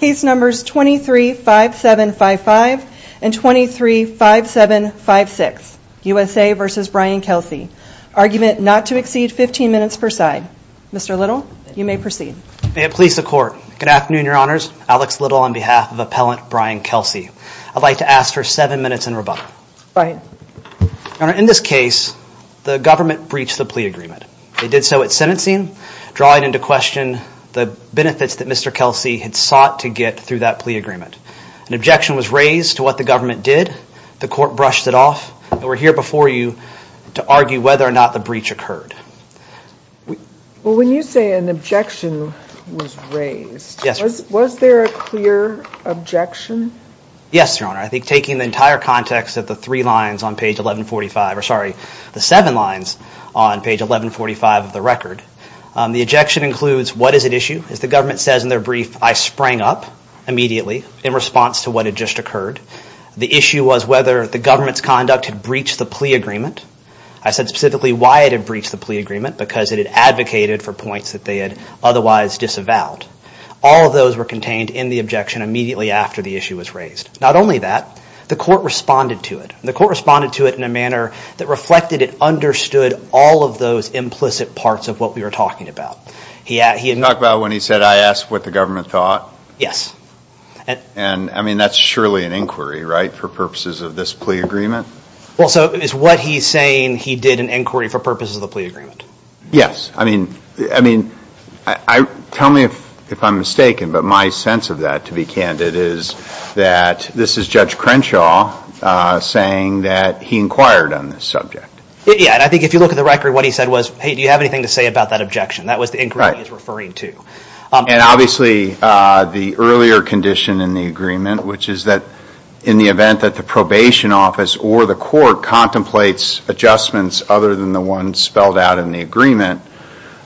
Case numbers 23-5755 and 23-5756, USA v. Brian Kelsey. Argument not to exceed 15 minutes per side. Mr. Little, you may proceed. May it please the Court. Good afternoon, Your Honors. Alex Little on behalf of Appellant Brian Kelsey. I'd like to ask for seven minutes in rebuttal. Go ahead. Your Honor, in this case, the government breached the plea agreement. They did so at sentencing, drawing into question the benefits that Mr. Kelsey had sought to get through that plea agreement. An objection was raised to what the government did. The Court brushed it off. We're here before you to argue whether or not the breach occurred. Well, when you say an objection was raised, was there a clear objection? Yes, Your Honor. I think taking the entire context of the three lines on page 1145, or sorry, the seven lines on page 1145 of the record, the objection includes what is at issue. As the government says in their brief, I sprang up immediately in response to what had just occurred. The issue was whether the government's conduct had breached the plea agreement. I said specifically why it had breached the plea agreement, because it had advocated for points that they had otherwise disavowed. All of those were contained in the objection immediately after the issue was raised. Not only that, the Court responded to it. The Court responded to it in a manner that reflected and understood all of those implicit parts of what we were talking about. You're talking about when he said, I asked what the government thought? Yes. And, I mean, that's surely an inquiry, right, for purposes of this plea agreement? Well, so is what he's saying he did an inquiry for purposes of the plea agreement? Yes. I mean, tell me if I'm mistaken, but my sense of that, to be candid, is that this is Judge Crenshaw saying that he inquired on this subject. Yeah, and I think if you look at the record, what he said was, hey, do you have anything to say about that objection? That was the inquiry he was referring to. And, obviously, the earlier condition in the agreement, which is that in the event that the probation office or the Court contemplates adjustments other than the ones spelled out in the agreement,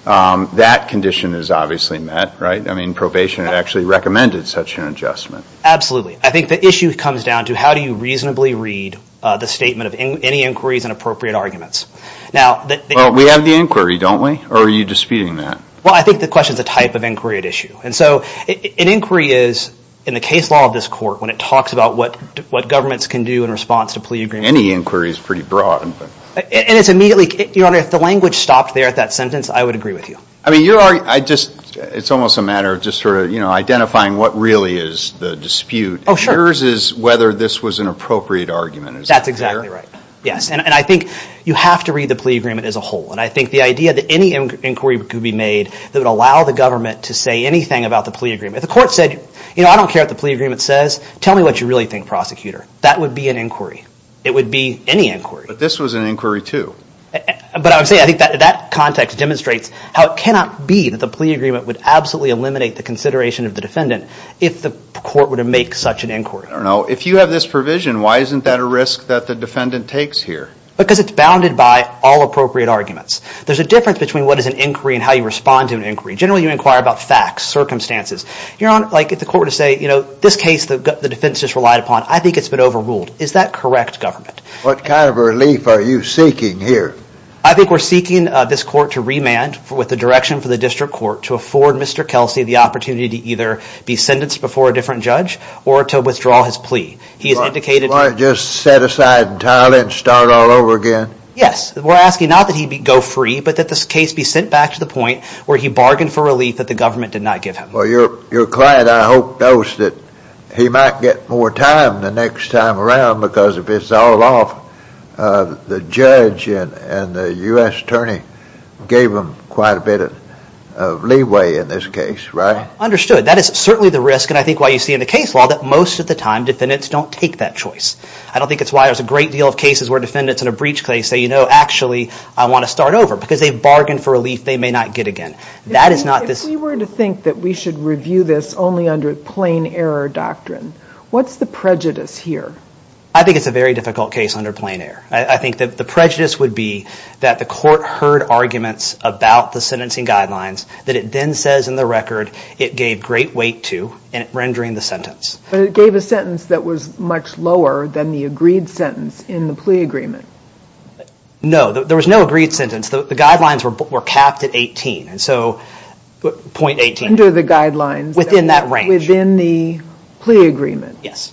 that condition is obviously met, right? I mean, probation had actually recommended such an adjustment. Absolutely. I think the issue comes down to how do you reasonably read the statement of any inquiries and appropriate arguments? Well, we have the inquiry, don't we? Or are you disputing that? Well, I think the question is the type of inquiry at issue. And so an inquiry is, in the case law of this Court, when it talks about what governments can do in response to plea agreements— Any inquiry is pretty broad. And it's immediately—Your Honor, if the language stopped there at that sentence, I would agree with you. I mean, it's almost a matter of just sort of identifying what really is the dispute. Oh, sure. Yours is whether this was an appropriate argument. That's exactly right. Yes. And I think you have to read the plea agreement as a whole. And I think the idea that any inquiry could be made that would allow the government to say anything about the plea agreement— If the Court said, you know, I don't care what the plea agreement says. Tell me what you really think, Prosecutor. That would be an inquiry. It would be any inquiry. But this was an inquiry, too. But I would say I think that context demonstrates how it cannot be that the plea agreement would absolutely eliminate the consideration of the defendant if the Court were to make such an inquiry. I don't know. If you have this provision, why isn't that a risk that the defendant takes here? Because it's bounded by all appropriate arguments. There's a difference between what is an inquiry and how you respond to an inquiry. Generally, you inquire about facts, circumstances. Your Honor, like if the Court were to say, you know, this case the defense just relied upon, I think it's been overruled. Is that correct, Government? What kind of relief are you seeking here? I think we're seeking this Court to remand with the direction for the District Court to afford Mr. Kelsey the opportunity to either be sentenced before a different judge or to withdraw his plea. He has indicated— Yes. We're asking not that he go free, but that this case be sent back to the point where he bargained for relief that the Government did not give him. Well, your client, I hope, knows that he might get more time the next time around because if it's all off, the judge and the U.S. attorney gave him quite a bit of leeway in this case, right? Understood. That is certainly the risk. And I think why you see in the case law that most of the time defendants don't take that choice. I don't think it's why there's a great deal of cases where defendants in a breach case say, you know, actually, I want to start over because they bargained for relief they may not get again. That is not this— If we were to think that we should review this only under plain error doctrine, what's the prejudice here? I think it's a very difficult case under plain error. I think that the prejudice would be that the Court heard arguments about the sentencing guidelines that it then says in the record it gave great weight to in rendering the sentence. But it gave a sentence that was much lower than the agreed sentence in the plea agreement. No. There was no agreed sentence. The guidelines were capped at 18. And so— Under the guidelines. Within that range. Within the plea agreement. Yes.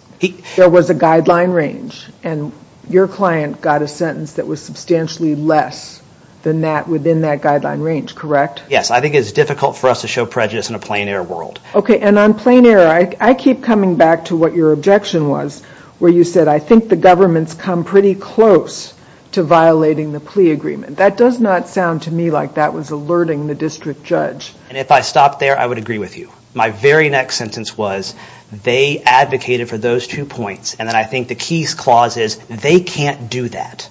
There was a guideline range and your client got a sentence that was substantially less than that within that guideline range, correct? Yes. I think it's difficult for us to show prejudice in a plain error world. Okay, and on plain error, I keep coming back to what your objection was where you said, I think the government's come pretty close to violating the plea agreement. That does not sound to me like that was alerting the district judge. And if I stopped there, I would agree with you. My very next sentence was, they advocated for those two points. And then I think the key clause is, they can't do that.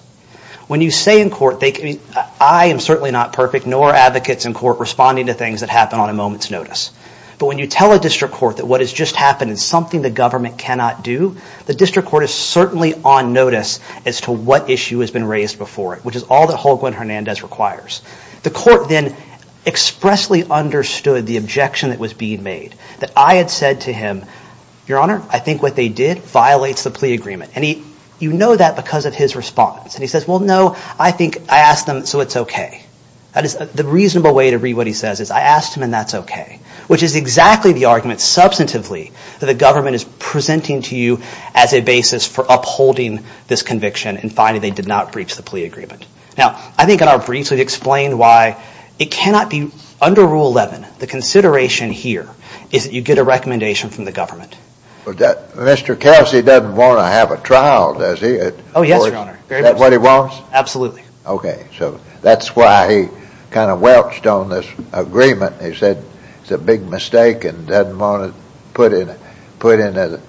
When you say in court, I am certainly not perfect, nor are advocates in court responding to things that happen on a moment's notice. But when you tell a district court that what has just happened is something the government cannot do, the district court is certainly on notice as to what issue has been raised before it, which is all that Holguin-Hernandez requires. The court then expressly understood the objection that was being made. That I had said to him, Your Honor, I think what they did violates the plea agreement. And you know that because of his response. And he says, well, no, I think I asked them, so it's okay. The reasonable way to read what he says is, I asked him and that's okay. Which is exactly the argument, substantively, that the government is presenting to you as a basis for upholding this conviction and finding they did not breach the plea agreement. Now, I think in our briefs we've explained why it cannot be under Rule 11, the consideration here is that you get a recommendation from the government. But Mr. Cassidy doesn't want to have a trial, does he? Oh, yes, Your Honor. Is that what he wants? Absolutely. Okay. So that's why he kind of welched on this agreement. He said it's a big mistake and doesn't want to put in a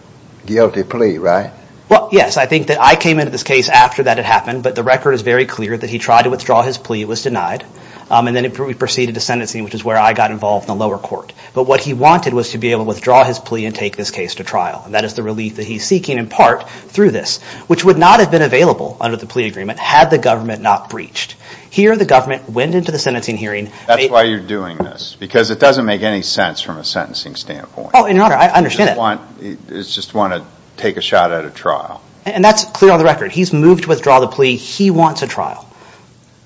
guilty plea, right? Well, yes. I think that I came into this case after that had happened, but the record is very clear that he tried to withdraw his plea. It was denied. And then he proceeded to sentencing, which is where I got involved in the lower court. But what he wanted was to be able to withdraw his plea and take this case to trial. And that is the relief that he's seeking, in part, through this. Which would not have been available under the plea agreement had the government not breached. Here the government went into the sentencing hearing. That's why you're doing this, because it doesn't make any sense from a sentencing standpoint. Oh, Your Honor, I understand that. It's just want to take a shot at a trial. And that's clear on the record. He's moved to withdraw the plea. He wants a trial.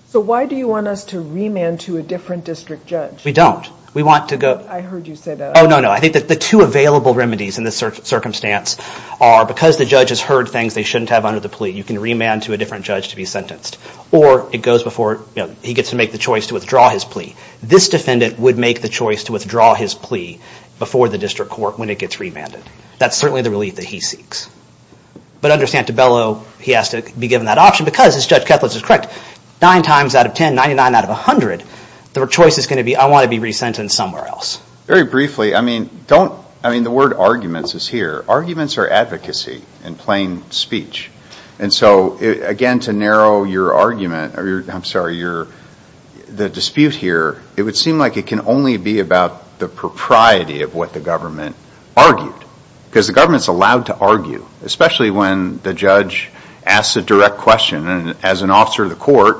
So why do you want us to remand to a different district judge? We don't. We want to go. I heard you say that. Oh, no, no. I think that the two available remedies in this circumstance are because the judge has heard things they shouldn't have under the plea, you can remand to a different judge to be sentenced. Or he gets to make the choice to withdraw his plea. This defendant would make the choice to withdraw his plea before the district court when it gets remanded. That's certainly the relief that he seeks. But under Santabello, he has to be given that option, because, as Judge Kethledge is correct, nine times out of ten, 99 out of 100, the choice is going to be, I want to be resentenced somewhere else. Very briefly, I mean, the word arguments is here. Arguments are advocacy in plain speech. And so, again, to narrow your argument, I'm sorry, the dispute here, it would seem like it can only be about the propriety of what the government argued. Because the government is allowed to argue, especially when the judge asks a direct question. And as an officer of the court,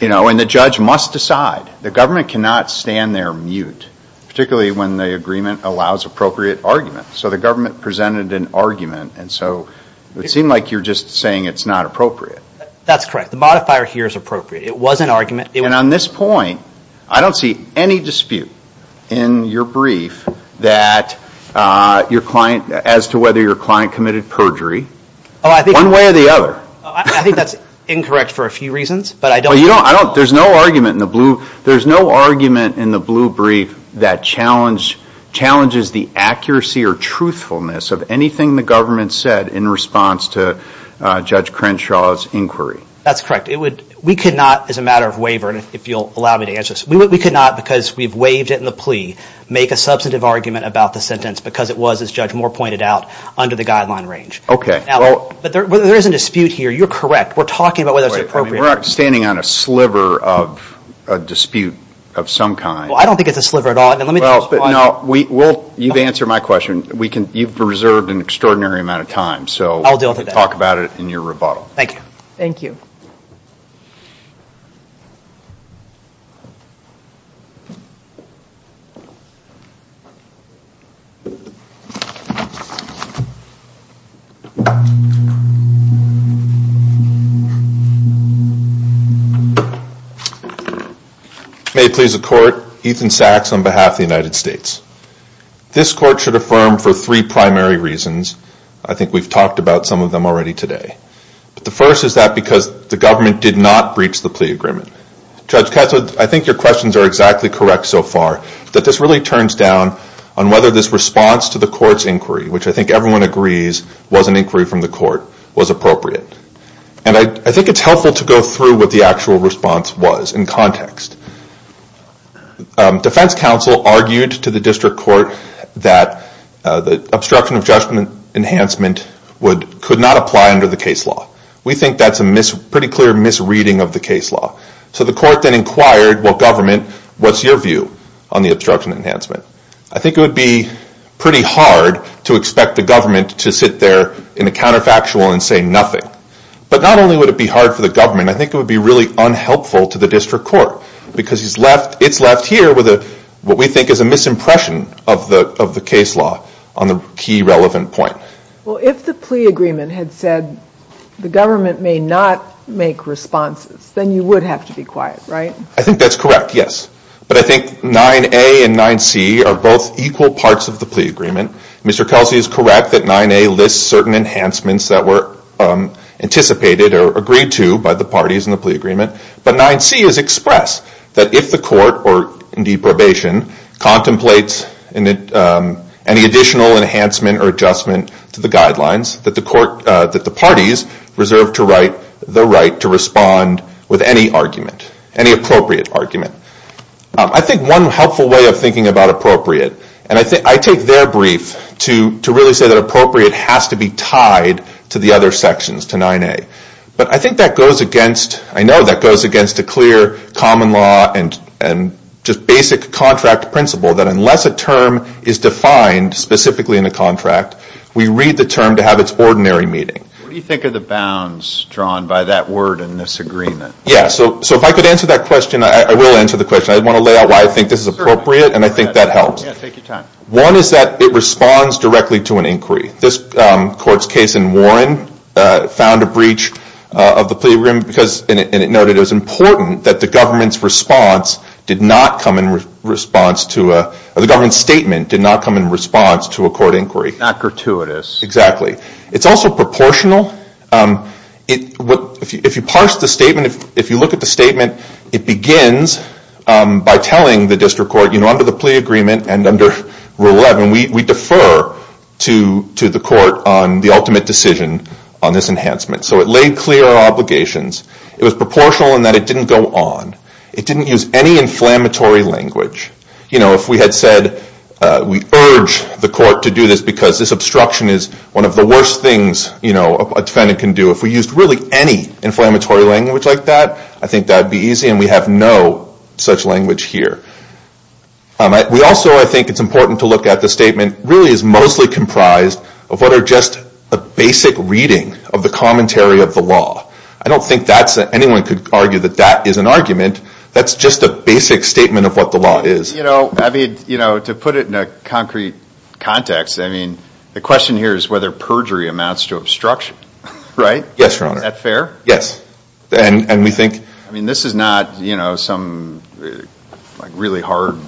you know, and the judge must decide. The government cannot stand there mute, particularly when the agreement allows appropriate argument. So the government presented an argument, and so it would seem like you're just saying it's not appropriate. That's correct. The modifier here is appropriate. It was an argument. And on this point, I don't see any dispute in your brief that your client, as to whether your client committed perjury. One way or the other. I think that's incorrect for a few reasons, but I don't. There's no argument in the blue. that challenges the accuracy or truthfulness of anything the government said in response to Judge Crenshaw's inquiry. That's correct. We could not, as a matter of waiver, and if you'll allow me to answer this, we could not, because we've waived it in the plea, make a substantive argument about the sentence because it was, as Judge Moore pointed out, under the guideline range. Okay. But there is a dispute here. You're correct. We're talking about whether it's appropriate. We're not standing on a sliver of a dispute of some kind. Well, I don't think it's a sliver at all. You've answered my question. You've reserved an extraordinary amount of time. I'll deal with it. So we'll talk about it in your rebuttal. Thank you. May it please the Court. Ethan Sachs on behalf of the United States. This Court should affirm for three primary reasons. I think we've talked about some of them already today. But the first is that because the government did not breach the plea agreement. Judge Katz, I think your questions are exactly correct so far, that this really turns down on whether this response to the Court's inquiry, which I think everyone agrees was an inquiry from the Court, was appropriate. And I think it's helpful to go through what the actual response was in context. Defense counsel argued to the district court that the obstruction of judgment enhancement could not apply under the case law. We think that's a pretty clear misreading of the case law. So the Court then inquired, well, government, what's your view on the obstruction of enhancement? I think it would be pretty hard to expect the government to sit there in a counterfactual and say nothing. But not only would it be hard for the government, I think it would be really unhelpful to the district court. Because it's left here with what we think is a misimpression of the case law on the key relevant point. Well, if the plea agreement had said the government may not make responses, then you would have to be quiet, right? I think that's correct, yes. But I think 9A and 9C are both equal parts of the plea agreement. Mr. Kelsey is correct that 9A lists certain enhancements that were anticipated or agreed to by the parties in the plea agreement. But 9C is express, that if the Court, or indeed probation, contemplates any additional enhancement or adjustment to the guidelines, that the parties reserve the right to respond with any argument, any appropriate argument. I think one helpful way of thinking about appropriate, and I take their brief to really say that appropriate has to be tied to the other sections, to 9A. But I think that goes against, I know that goes against a clear common law and just basic contract principle that unless a term is defined specifically in the contract, we read the term to have its ordinary meaning. What do you think of the bounds drawn by that word in this agreement? Yeah, so if I could answer that question, I will answer the question. I want to lay out why I think this is appropriate, and I think that helps. Yeah, take your time. One is that it responds directly to an inquiry. This Court's case in Warren found a breach of the plea agreement because, and it noted it was important that the government's response did not come in response to a, or the government's statement did not come in response to a court inquiry. Not gratuitous. Exactly. It's also proportional. If you parse the statement, if you look at the statement, it begins by telling the District Court, you know, under the plea agreement and under Rule 11, we defer to the Court on the ultimate decision on this enhancement. So it laid clear our obligations. It was proportional in that it didn't go on. It didn't use any inflammatory language. You know, if we had said we urge the Court to do this because this obstruction is one of the worst things a defendant can do, if we used really any inflammatory language like that, I think that would be easy, and we have no such language here. We also, I think it's important to look at the statement, really is mostly comprised of what are just a basic reading of the commentary of the law. I don't think that's, anyone could argue that that is an argument. That's just a basic statement of what the law is. You know, I mean, you know, to put it in a concrete context, I mean, the question here is whether perjury amounts to obstruction, right? Yes, Your Honor. Is that fair? Yes, and we think. I mean, this is not, you know, some really hard,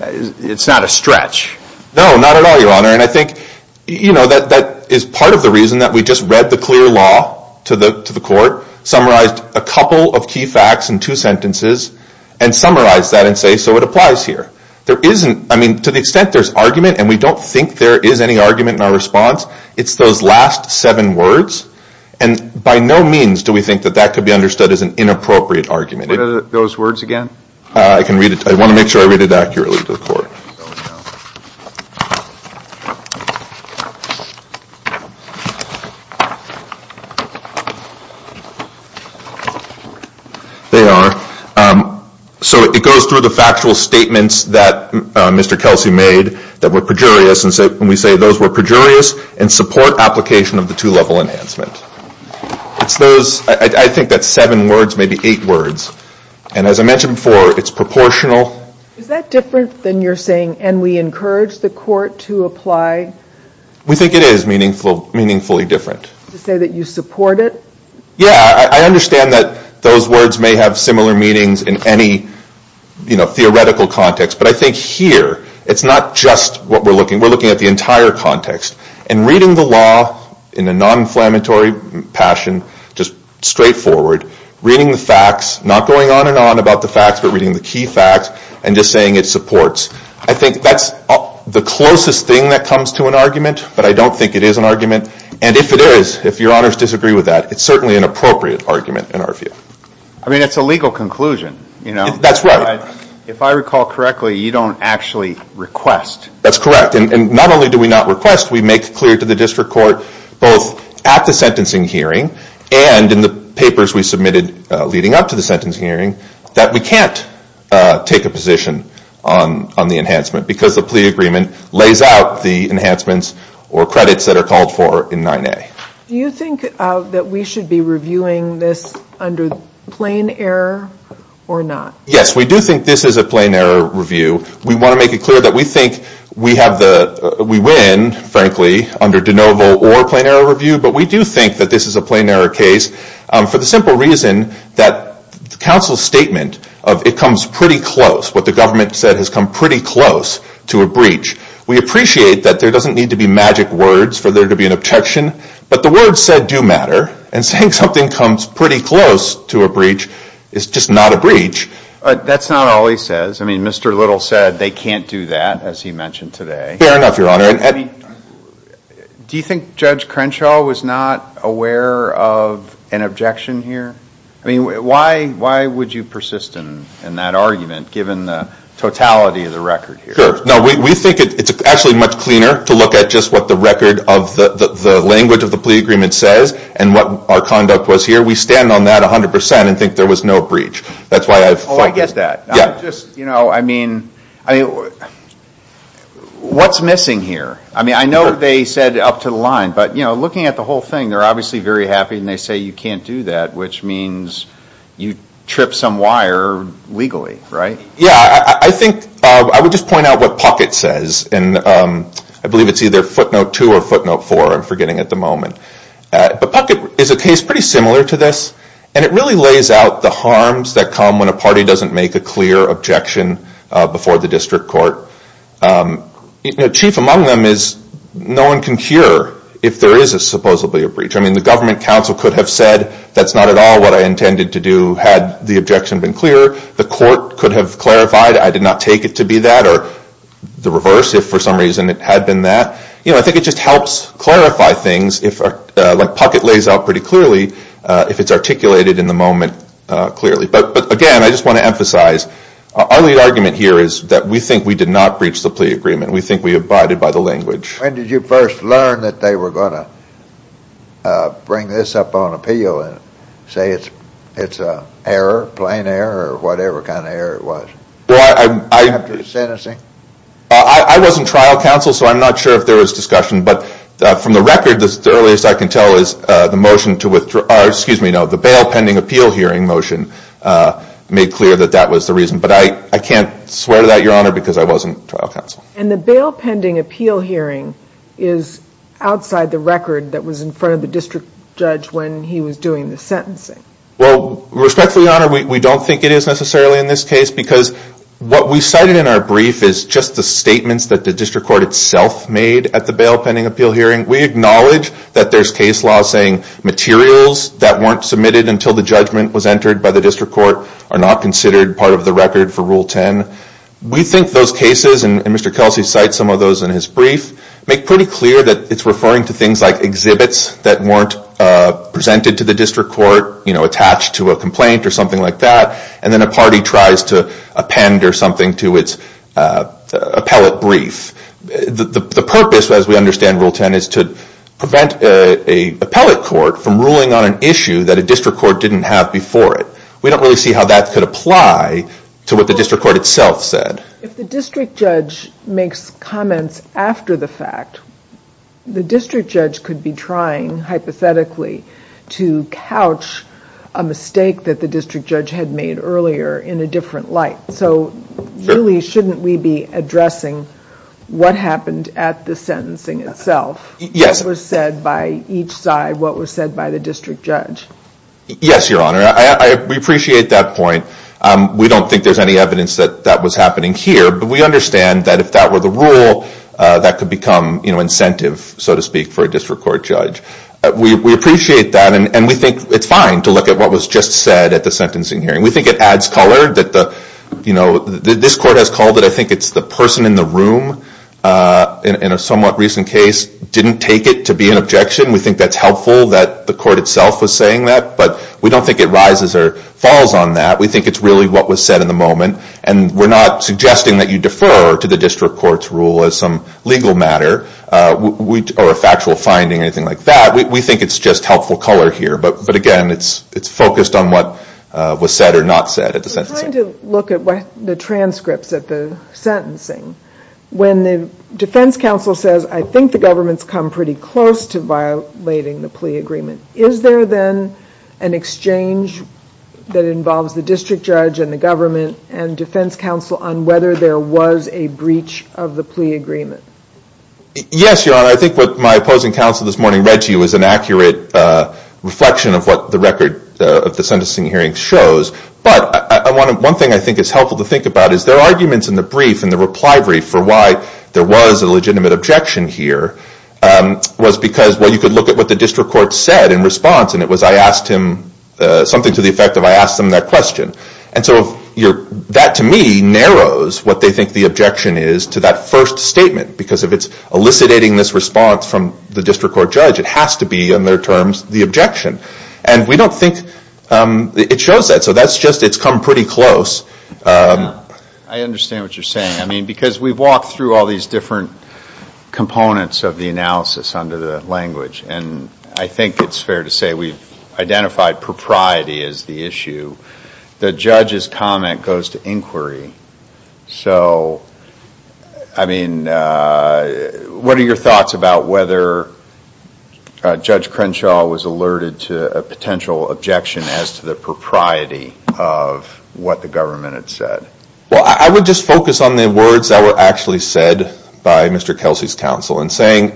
it's not a stretch. No, not at all, Your Honor, and I think, you know, that is part of the reason that we just read the clear law to the Court, summarized a couple of key facts in two sentences, and summarized that and say, so it applies here. There isn't, I mean, to the extent there's argument, and we don't think there is any argument in our response, it's those last seven words, and by no means do we think that that could be understood as an inappropriate argument. Read those words again. I can read it. I want to make sure I read it accurately to the Court. There we go. There you are. So it goes through the factual statements that Mr. Kelsey made that were perjurious, and we say those were perjurious, and support application of the two-level enhancement. It's those, I think that's seven words, maybe eight words, and as I mentioned before, it's proportional. Is that different than you're saying, and we encourage the Court to apply? We think it is meaningfully different. To say that you support it? Yeah, I understand that those words may have similar meanings in any, you know, theoretical context, but I think here, it's not just what we're looking at. We're looking at the entire context, and reading the law in a non-inflammatory passion, just straightforward, reading the facts, not going on and on about the facts, but reading the key facts, and just saying it supports. I think that's the closest thing that comes to an argument, but I don't think it is an argument, and if it is, if Your Honors disagree with that, it's certainly an appropriate argument in our view. I mean, it's a legal conclusion, you know. That's right. If I recall correctly, you don't actually request. That's correct, and not only do we not request, we make clear to the District Court, both at the sentencing hearing and in the papers we submitted leading up to the take a position on the enhancement, because the plea agreement lays out the enhancements or credits that are called for in 9A. Do you think that we should be reviewing this under plain error or not? Yes, we do think this is a plain error review. We want to make it clear that we think we have the, we win, frankly, under de novo or plain error review, but we do think that this is a plain error case for the simple reason that counsel's statement of it comes pretty close, what the government said has come pretty close to a breach. We appreciate that there doesn't need to be magic words for there to be an objection, but the words said do matter, and saying something comes pretty close to a breach is just not a breach. That's not all he says. I mean, Mr. Little said they can't do that, as he mentioned today. Fair enough, Your Honor. Do you think Judge Crenshaw was not aware of an objection here? I mean, why would you persist in that argument, given the totality of the record here? Sure. No, we think it's actually much cleaner to look at just what the record of the language of the plea agreement says and what our conduct was here. We stand on that 100% and think there was no breach. That's why I've focused. Oh, I get that. I just, you know, I mean, what's missing here? I mean, I know they said up to the line, but, you know, looking at the whole thing, they're obviously very happy and they say you can't do that, which means you tripped some wire legally, right? Yeah, I think I would just point out what Puckett says, and I believe it's either footnote 2 or footnote 4, I'm forgetting at the moment. But Puckett is a case pretty similar to this, and it really lays out the harms that come when a party doesn't make a clear objection before the district court. Chief among them is no one can cure if there is supposedly a breach. I mean, the government counsel could have said that's not at all what I intended to do had the objection been clear. The court could have clarified I did not take it to be that, or the reverse if for some reason it had been that. You know, I think it just helps clarify things. Like Puckett lays out pretty clearly if it's articulated in the moment clearly. But again, I just want to emphasize our lead argument here is that we think we did not breach the plea agreement. We think we abided by the language. When did you first learn that they were going to bring this up on appeal and say it's a error, plain error, or whatever kind of error it was? After sentencing? I was in trial counsel, so I'm not sure if there was discussion, but from the record, the earliest I can tell is the motion to withdraw, or excuse me, no, the bail pending appeal hearing motion made clear that that was the reason. But I can't swear to that, Your Honor, because I was in trial counsel. And the bail pending appeal hearing is outside the record that was in front of the district judge when he was doing the sentencing. Well, respectfully, Your Honor, we don't think it is necessarily in this case because what we cited in our brief is just the statements that the district court itself made at the bail pending appeal hearing. We acknowledge that there's case law saying materials that weren't submitted until the judgment was entered by the district court are not considered part of the record for Rule 10. We think those cases, and Mr. Kelsey cites some of those in his brief, make pretty clear that it's referring to things like exhibits that weren't presented to the district court, attached to a complaint or something like that, and then a party tries to append or something to its appellate brief. The purpose, as we understand Rule 10, is to prevent an appellate court from ruling on an issue that a district court didn't have before it. We don't really see how that could apply to what the district court itself said. If the district judge makes comments after the fact, the district judge could be trying, hypothetically, to couch a mistake that the district judge had made earlier in a different light. So really, shouldn't we be addressing what happened at the sentencing itself, what was said by each side, what was said by the district judge? Yes, Your Honor. We appreciate that point. We don't think there's any evidence that that was happening here, but we understand that if that were the rule, that could become incentive, so to speak, for a district court judge. We appreciate that, and we think it's fine to look at what was just said at the sentencing hearing. We think it adds color. This court has called it, I think it's the person in the room, in a somewhat recent case, didn't take it to be an objection. We think that's helpful that the court itself was saying that, but we don't think it rises or falls on that. We think it's really what was said in the moment, and we're not suggesting that you defer to the district court's rule as some legal matter or a factual finding or anything like that. We think it's just helpful color here, but again, it's focused on what was said or not said at the sentencing. In trying to look at the transcripts at the sentencing, when the defense counsel says, I think the government's come pretty close to violating the plea agreement, is there then an exchange that involves the district judge and the government and defense counsel on whether there was a breach of the plea agreement? Yes, Your Honor. I think what my opposing counsel this morning read to you is an accurate reflection of what the record of the sentencing hearing shows, but one thing I think is helpful to think about is there are arguments in the brief, in the reply brief, for why there was a legitimate objection here, was because you could look at what the district court said in response, and it was I asked him something to the effect of I asked him that question. And so that to me narrows what they think the objection is to that first statement, because if it's eliciting this response from the district court judge, it has to be in their terms the objection. And we don't think it shows that. So that's just it's come pretty close. I understand what you're saying. I mean, because we've walked through all these different components of the analysis under the language, and I think it's fair to say we've identified propriety as the issue. The judge's comment goes to inquiry. So, I mean, what are your thoughts about whether Judge Crenshaw was alerted to a potential objection as to the propriety of what the government had said? Well, I would just focus on the words that were actually said by Mr. Kelsey's counsel. And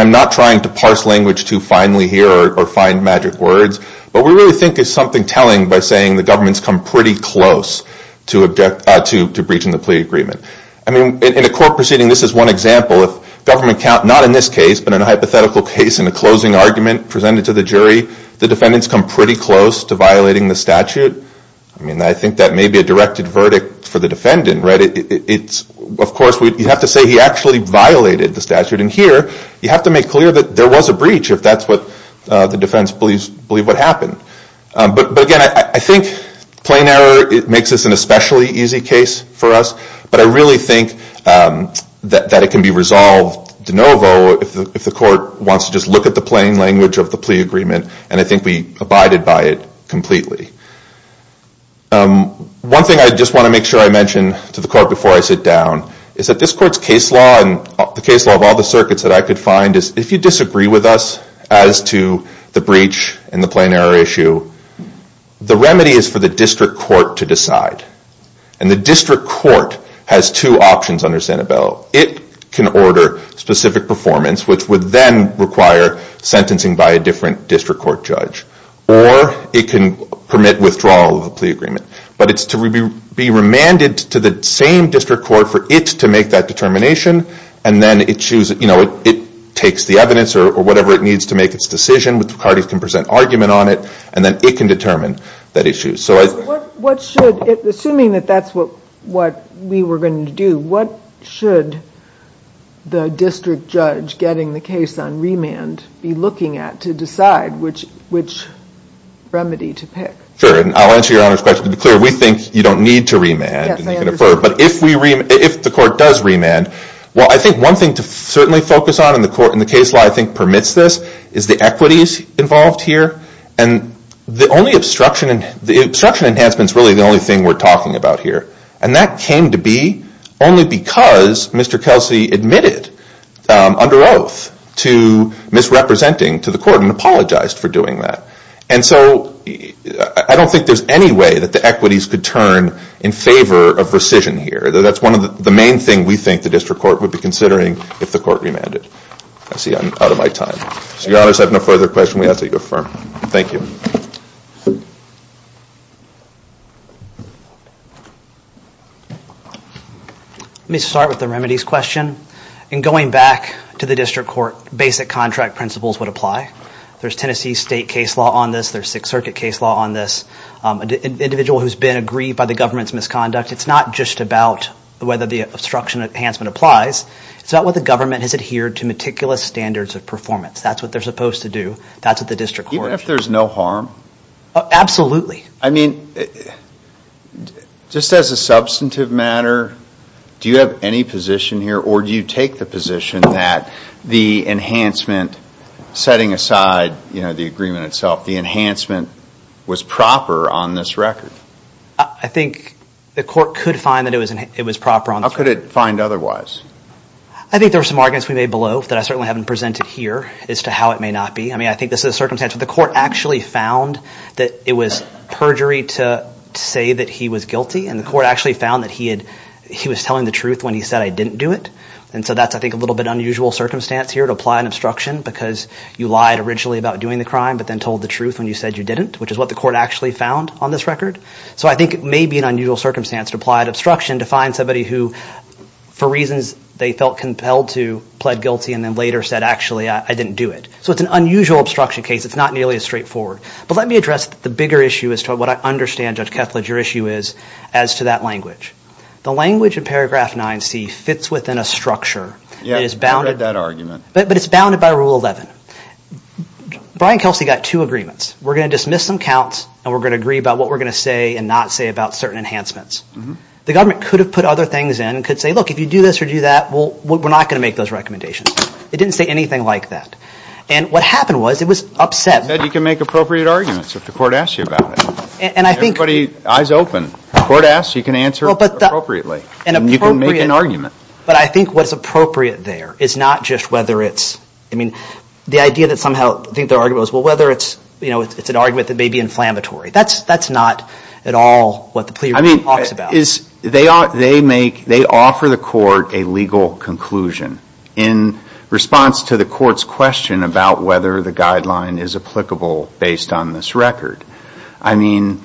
I'm not trying to parse language to finally hear or find magic words, but we really think it's something telling by saying the government's come pretty close to breaching the plea agreement. I mean, in a court proceeding, this is one example. If government, not in this case, but in a hypothetical case in a closing argument presented to the jury, the defendants come pretty close to violating the statute. I mean, I think that may be a directed verdict for the defendant, right? Of course, you have to say he actually violated the statute. And here, you have to make clear that there was a breach if that's what the defense believed would happen. But, again, I think plain error makes this an especially easy case for us, but I really think that it can be resolved de novo if the court wants to just look at the plain language of the plea agreement, and I think we abided by it completely. One thing I just want to make sure I mention to the court before I sit down is that this court's case law and the case law of all the circuits that I could find is, if you disagree with us as to the breach and the plain error issue, the remedy is for the district court to decide. And the district court has two options under Sanibello. It can order specific performance, which would then require sentencing by a different district court judge, or it can permit withdrawal of a plea agreement. But it's to be remanded to the same district court for it to make that determination, and then it takes the evidence or whatever it needs to make its decision, which the parties can present argument on it, and then it can determine that issue. Assuming that that's what we were going to do, what should the district judge getting the case on remand be looking at to decide which remedy to pick? Sure, and I'll answer your Honor's question to be clear. We think you don't need to remand, but if the court does remand, well, I think one thing to certainly focus on in the case law I think permits this is the equities involved here. And the only obstruction enhancement is really the only thing we're talking about here. And that came to be only because Mr. Kelsey admitted under oath to misrepresenting to the court and apologized for doing that. And so I don't think there's any way that the equities could turn in favor of rescission here. That's one of the main things we think the district court would be considering if the court remanded. I see I'm out of my time. So Your Honor, if you have no further questions, we ask that you affirm. Thank you. Let me start with the remedies question. In going back to the district court, basic contract principles would apply. There's Tennessee state case law on this. There's Sixth Circuit case law on this. An individual who's been aggrieved by the government's misconduct, it's not just about whether the obstruction enhancement applies. It's about whether the government has adhered to meticulous standards of performance. That's what they're supposed to do. That's what the district court should do. Even if there's no harm? Absolutely. I mean, just as a substantive matter, do you have any position here or do you take the position that the enhancement, setting aside the agreement itself, the enhancement was proper on this record? I think the court could find that it was proper on this record. How could it find otherwise? I think there were some arguments we made below that I certainly haven't presented here as to how it may not be. I mean, I think this is a circumstance where the court actually found that it was perjury to say that he was guilty and the court actually found that he was telling the truth when he said, I didn't do it. And so that's, I think, a little bit unusual circumstance here to apply an obstruction because you lied originally about doing the crime but then told the truth when you said you didn't, which is what the court actually found on this record. So I think it may be an unusual circumstance to apply an obstruction to find somebody who, for reasons they felt compelled to, pled guilty and then later said, actually, I didn't do it. So it's an unusual obstruction case. It's not nearly as straightforward. But let me address the bigger issue as to what I understand, Judge Kethledge, your issue is as to that language. The language in paragraph 9C fits within a structure that is bounded. Yeah, I've read that argument. But it's bounded by Rule 11. Brian Kelsey got two agreements. We're going to dismiss some counts and we're going to agree about what we're going to say and not say about certain enhancements. The government could have put other things in, could say, look, if you do this or do that, we're not going to make those recommendations. It didn't say anything like that. And what happened was it was upset. You can make appropriate arguments if the court asks you about it. Everybody, eyes open. If the court asks, you can answer appropriately. And you can make an argument. But I think what's appropriate there is not just whether it's, I mean, the idea that somehow the argument was, well, whether it's, you know, it's an argument that may be inflammatory. That's not at all what the plea agreement talks about. They offer the court a legal conclusion in response to the court's question about whether the guideline is applicable based on this record. I mean,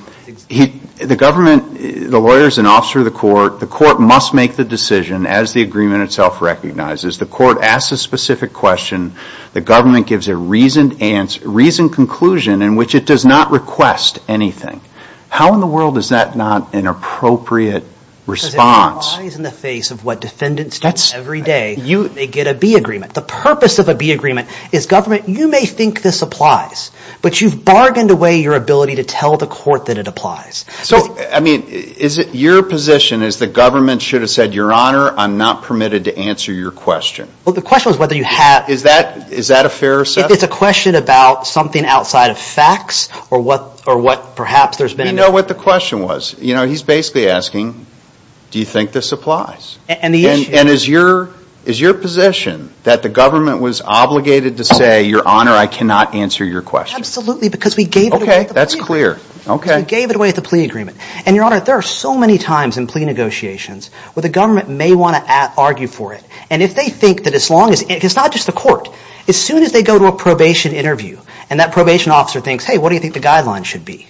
the government, the lawyer is an officer of the court. The court must make the decision as the agreement itself recognizes. The court asks a specific question. The government gives a reasoned conclusion in which it does not request anything. How in the world is that not an appropriate response? Because it applies in the face of what defendants do every day. They get a B agreement. The purpose of a B agreement is government, you may think this applies, but you've bargained away your ability to tell the court that it applies. So, I mean, is it your position is the government should have said, Your Honor, I'm not permitted to answer your question. Well, the question is whether you have. Is that a fair assessment? It's a question about something outside of facts or what perhaps there's been. We know what the question was. You know, he's basically asking, do you think this applies? And the issue is. And is your position that the government was obligated to say, Your Honor, I cannot answer your question. Absolutely, because we gave it away at the plea agreement. Okay, that's clear. We gave it away at the plea agreement. And, Your Honor, there are so many times in plea negotiations where the government may want to argue for it. And if they think that as long as, it's not just the court, as soon as they go to a probation interview and that probation officer thinks, Hey, what do you think the guidelines should be?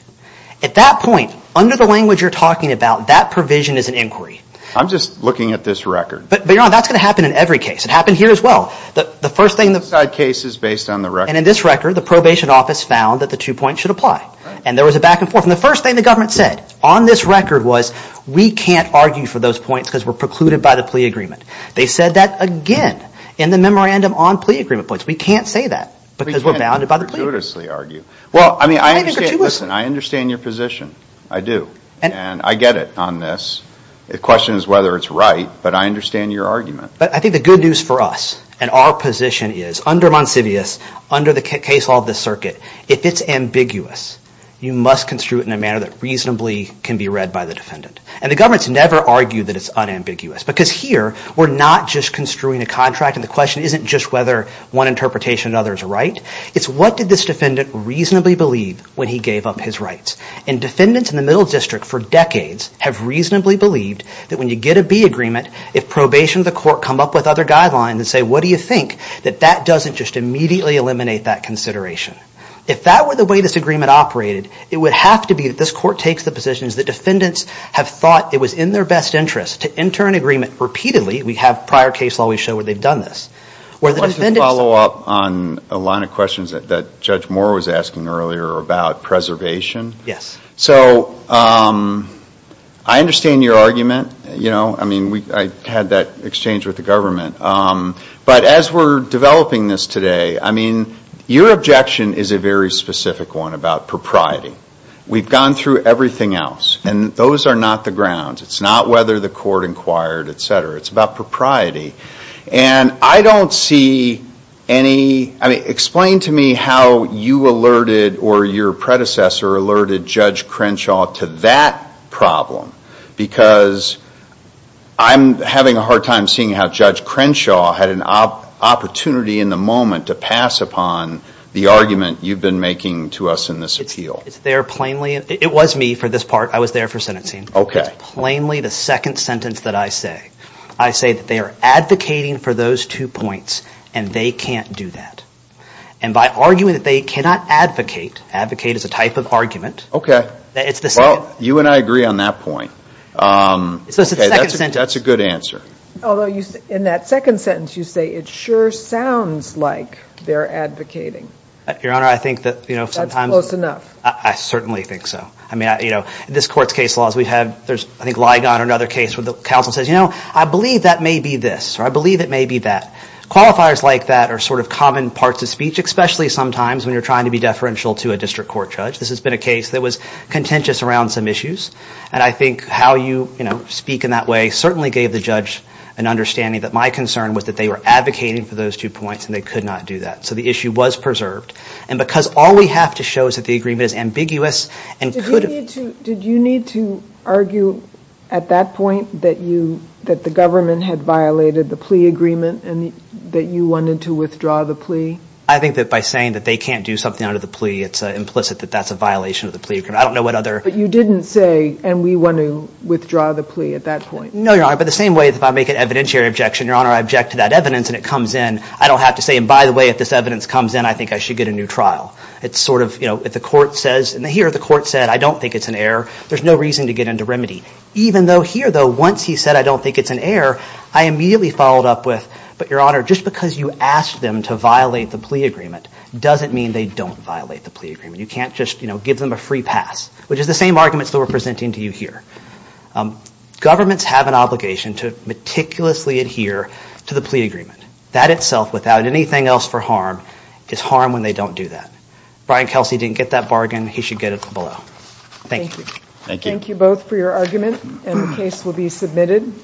At that point, under the language you're talking about, that provision is an inquiry. I'm just looking at this record. But, Your Honor, that's going to happen in every case. It happened here as well. The first thing. Case is based on the record. And in this record, the probation office found that the two points should apply. And there was a back and forth. And the first thing the government said on this record was, We can't argue for those points because we're precluded by the plea agreement. They said that again in the memorandum on plea agreement points. We can't say that because we're bounded by the plea agreement. We can't gratuitously argue. Well, I mean, I understand your position. I do. And I get it on this. The question is whether it's right, but I understand your argument. But I think the good news for us and our position is, under Monsivius, under the case law of the circuit, if it's ambiguous, you must construe it in a manner that reasonably can be read by the defendant. And the government's never argued that it's unambiguous. Because here, we're not just construing a contract, and the question isn't just whether one interpretation or another is right. It's what did this defendant reasonably believe when he gave up his rights. And defendants in the middle district for decades have reasonably believed that when you get a plea agreement, if probation of the court come up with other guidelines and say, what do you think, that that doesn't just immediately eliminate that consideration. If that were the way this agreement operated, it would have to be that this court takes the position that defendants have thought it was in their best interest to enter an agreement repeatedly. We have prior case law we show where they've done this. I want to follow up on a line of questions that Judge Moore was asking earlier about preservation. Yes. So I understand your argument. I mean, I had that exchange with the government. But as we're developing this today, I mean, your objection is a very specific one about propriety. We've gone through everything else. And those are not the grounds. It's not whether the court inquired, et cetera. It's about propriety. And I don't see any, I mean, explain to me how you alerted or your predecessor alerted Judge Crenshaw to that problem. Because I'm having a hard time seeing how Judge Crenshaw had an opportunity in the moment to pass upon the argument you've been making to us in this appeal. It's there plainly. It was me for this part. I was there for sentencing. Okay. It's plainly the second sentence that I say. I say that they are advocating for those two points, and they can't do that. And by arguing that they cannot advocate, advocate is a type of argument. It's the second. Well, you and I agree on that point. So it's the second sentence. Okay. That's a good answer. Although in that second sentence you say it sure sounds like they're advocating. Your Honor, I think that sometimes. That's close enough. I certainly think so. I mean, you know, in this Court's case laws we have, there's I think Ligon or another case where the counsel says, you know, I believe that may be this, or I believe it may be that. Qualifiers like that are sort of common parts of speech, especially sometimes when you're trying to be deferential to a district court judge. This has been a case that was contentious around some issues. And I think how you, you know, speak in that way certainly gave the judge an understanding that my concern was that they were advocating for those two points, and they could not do that. So the issue was preserved. And because all we have to show is that the agreement is ambiguous and could have. Did you need to argue at that point that you, that the government had violated the plea agreement and that you wanted to withdraw the plea? I think that by saying that they can't do something under the plea, it's implicit that that's a violation of the plea agreement. I don't know what other. But you didn't say, and we want to withdraw the plea at that point. No, Your Honor. But the same way if I make an evidentiary objection, Your Honor, I object to that evidence and it comes in, I don't have to say, and by the way, if this evidence comes in, I think I should get a new trial. It's sort of, you know, if the court says, and here the court said I don't think it's an error, there's no reason to get into remedy. Even though here, though, once he said I don't think it's an error, I immediately followed up with, but Your Honor, just because you asked them to violate the plea agreement doesn't mean they don't violate the plea agreement. You can't just, you know, give them a free pass, which is the same arguments that we're presenting to you here. Governments have an obligation to meticulously adhere to the plea agreement. That itself, without anything else for harm, is harm when they don't do that. Brian Kelsey didn't get that bargain. He should get it below. Thank you. Thank you. Thank you both for your argument, and the case will be submitted.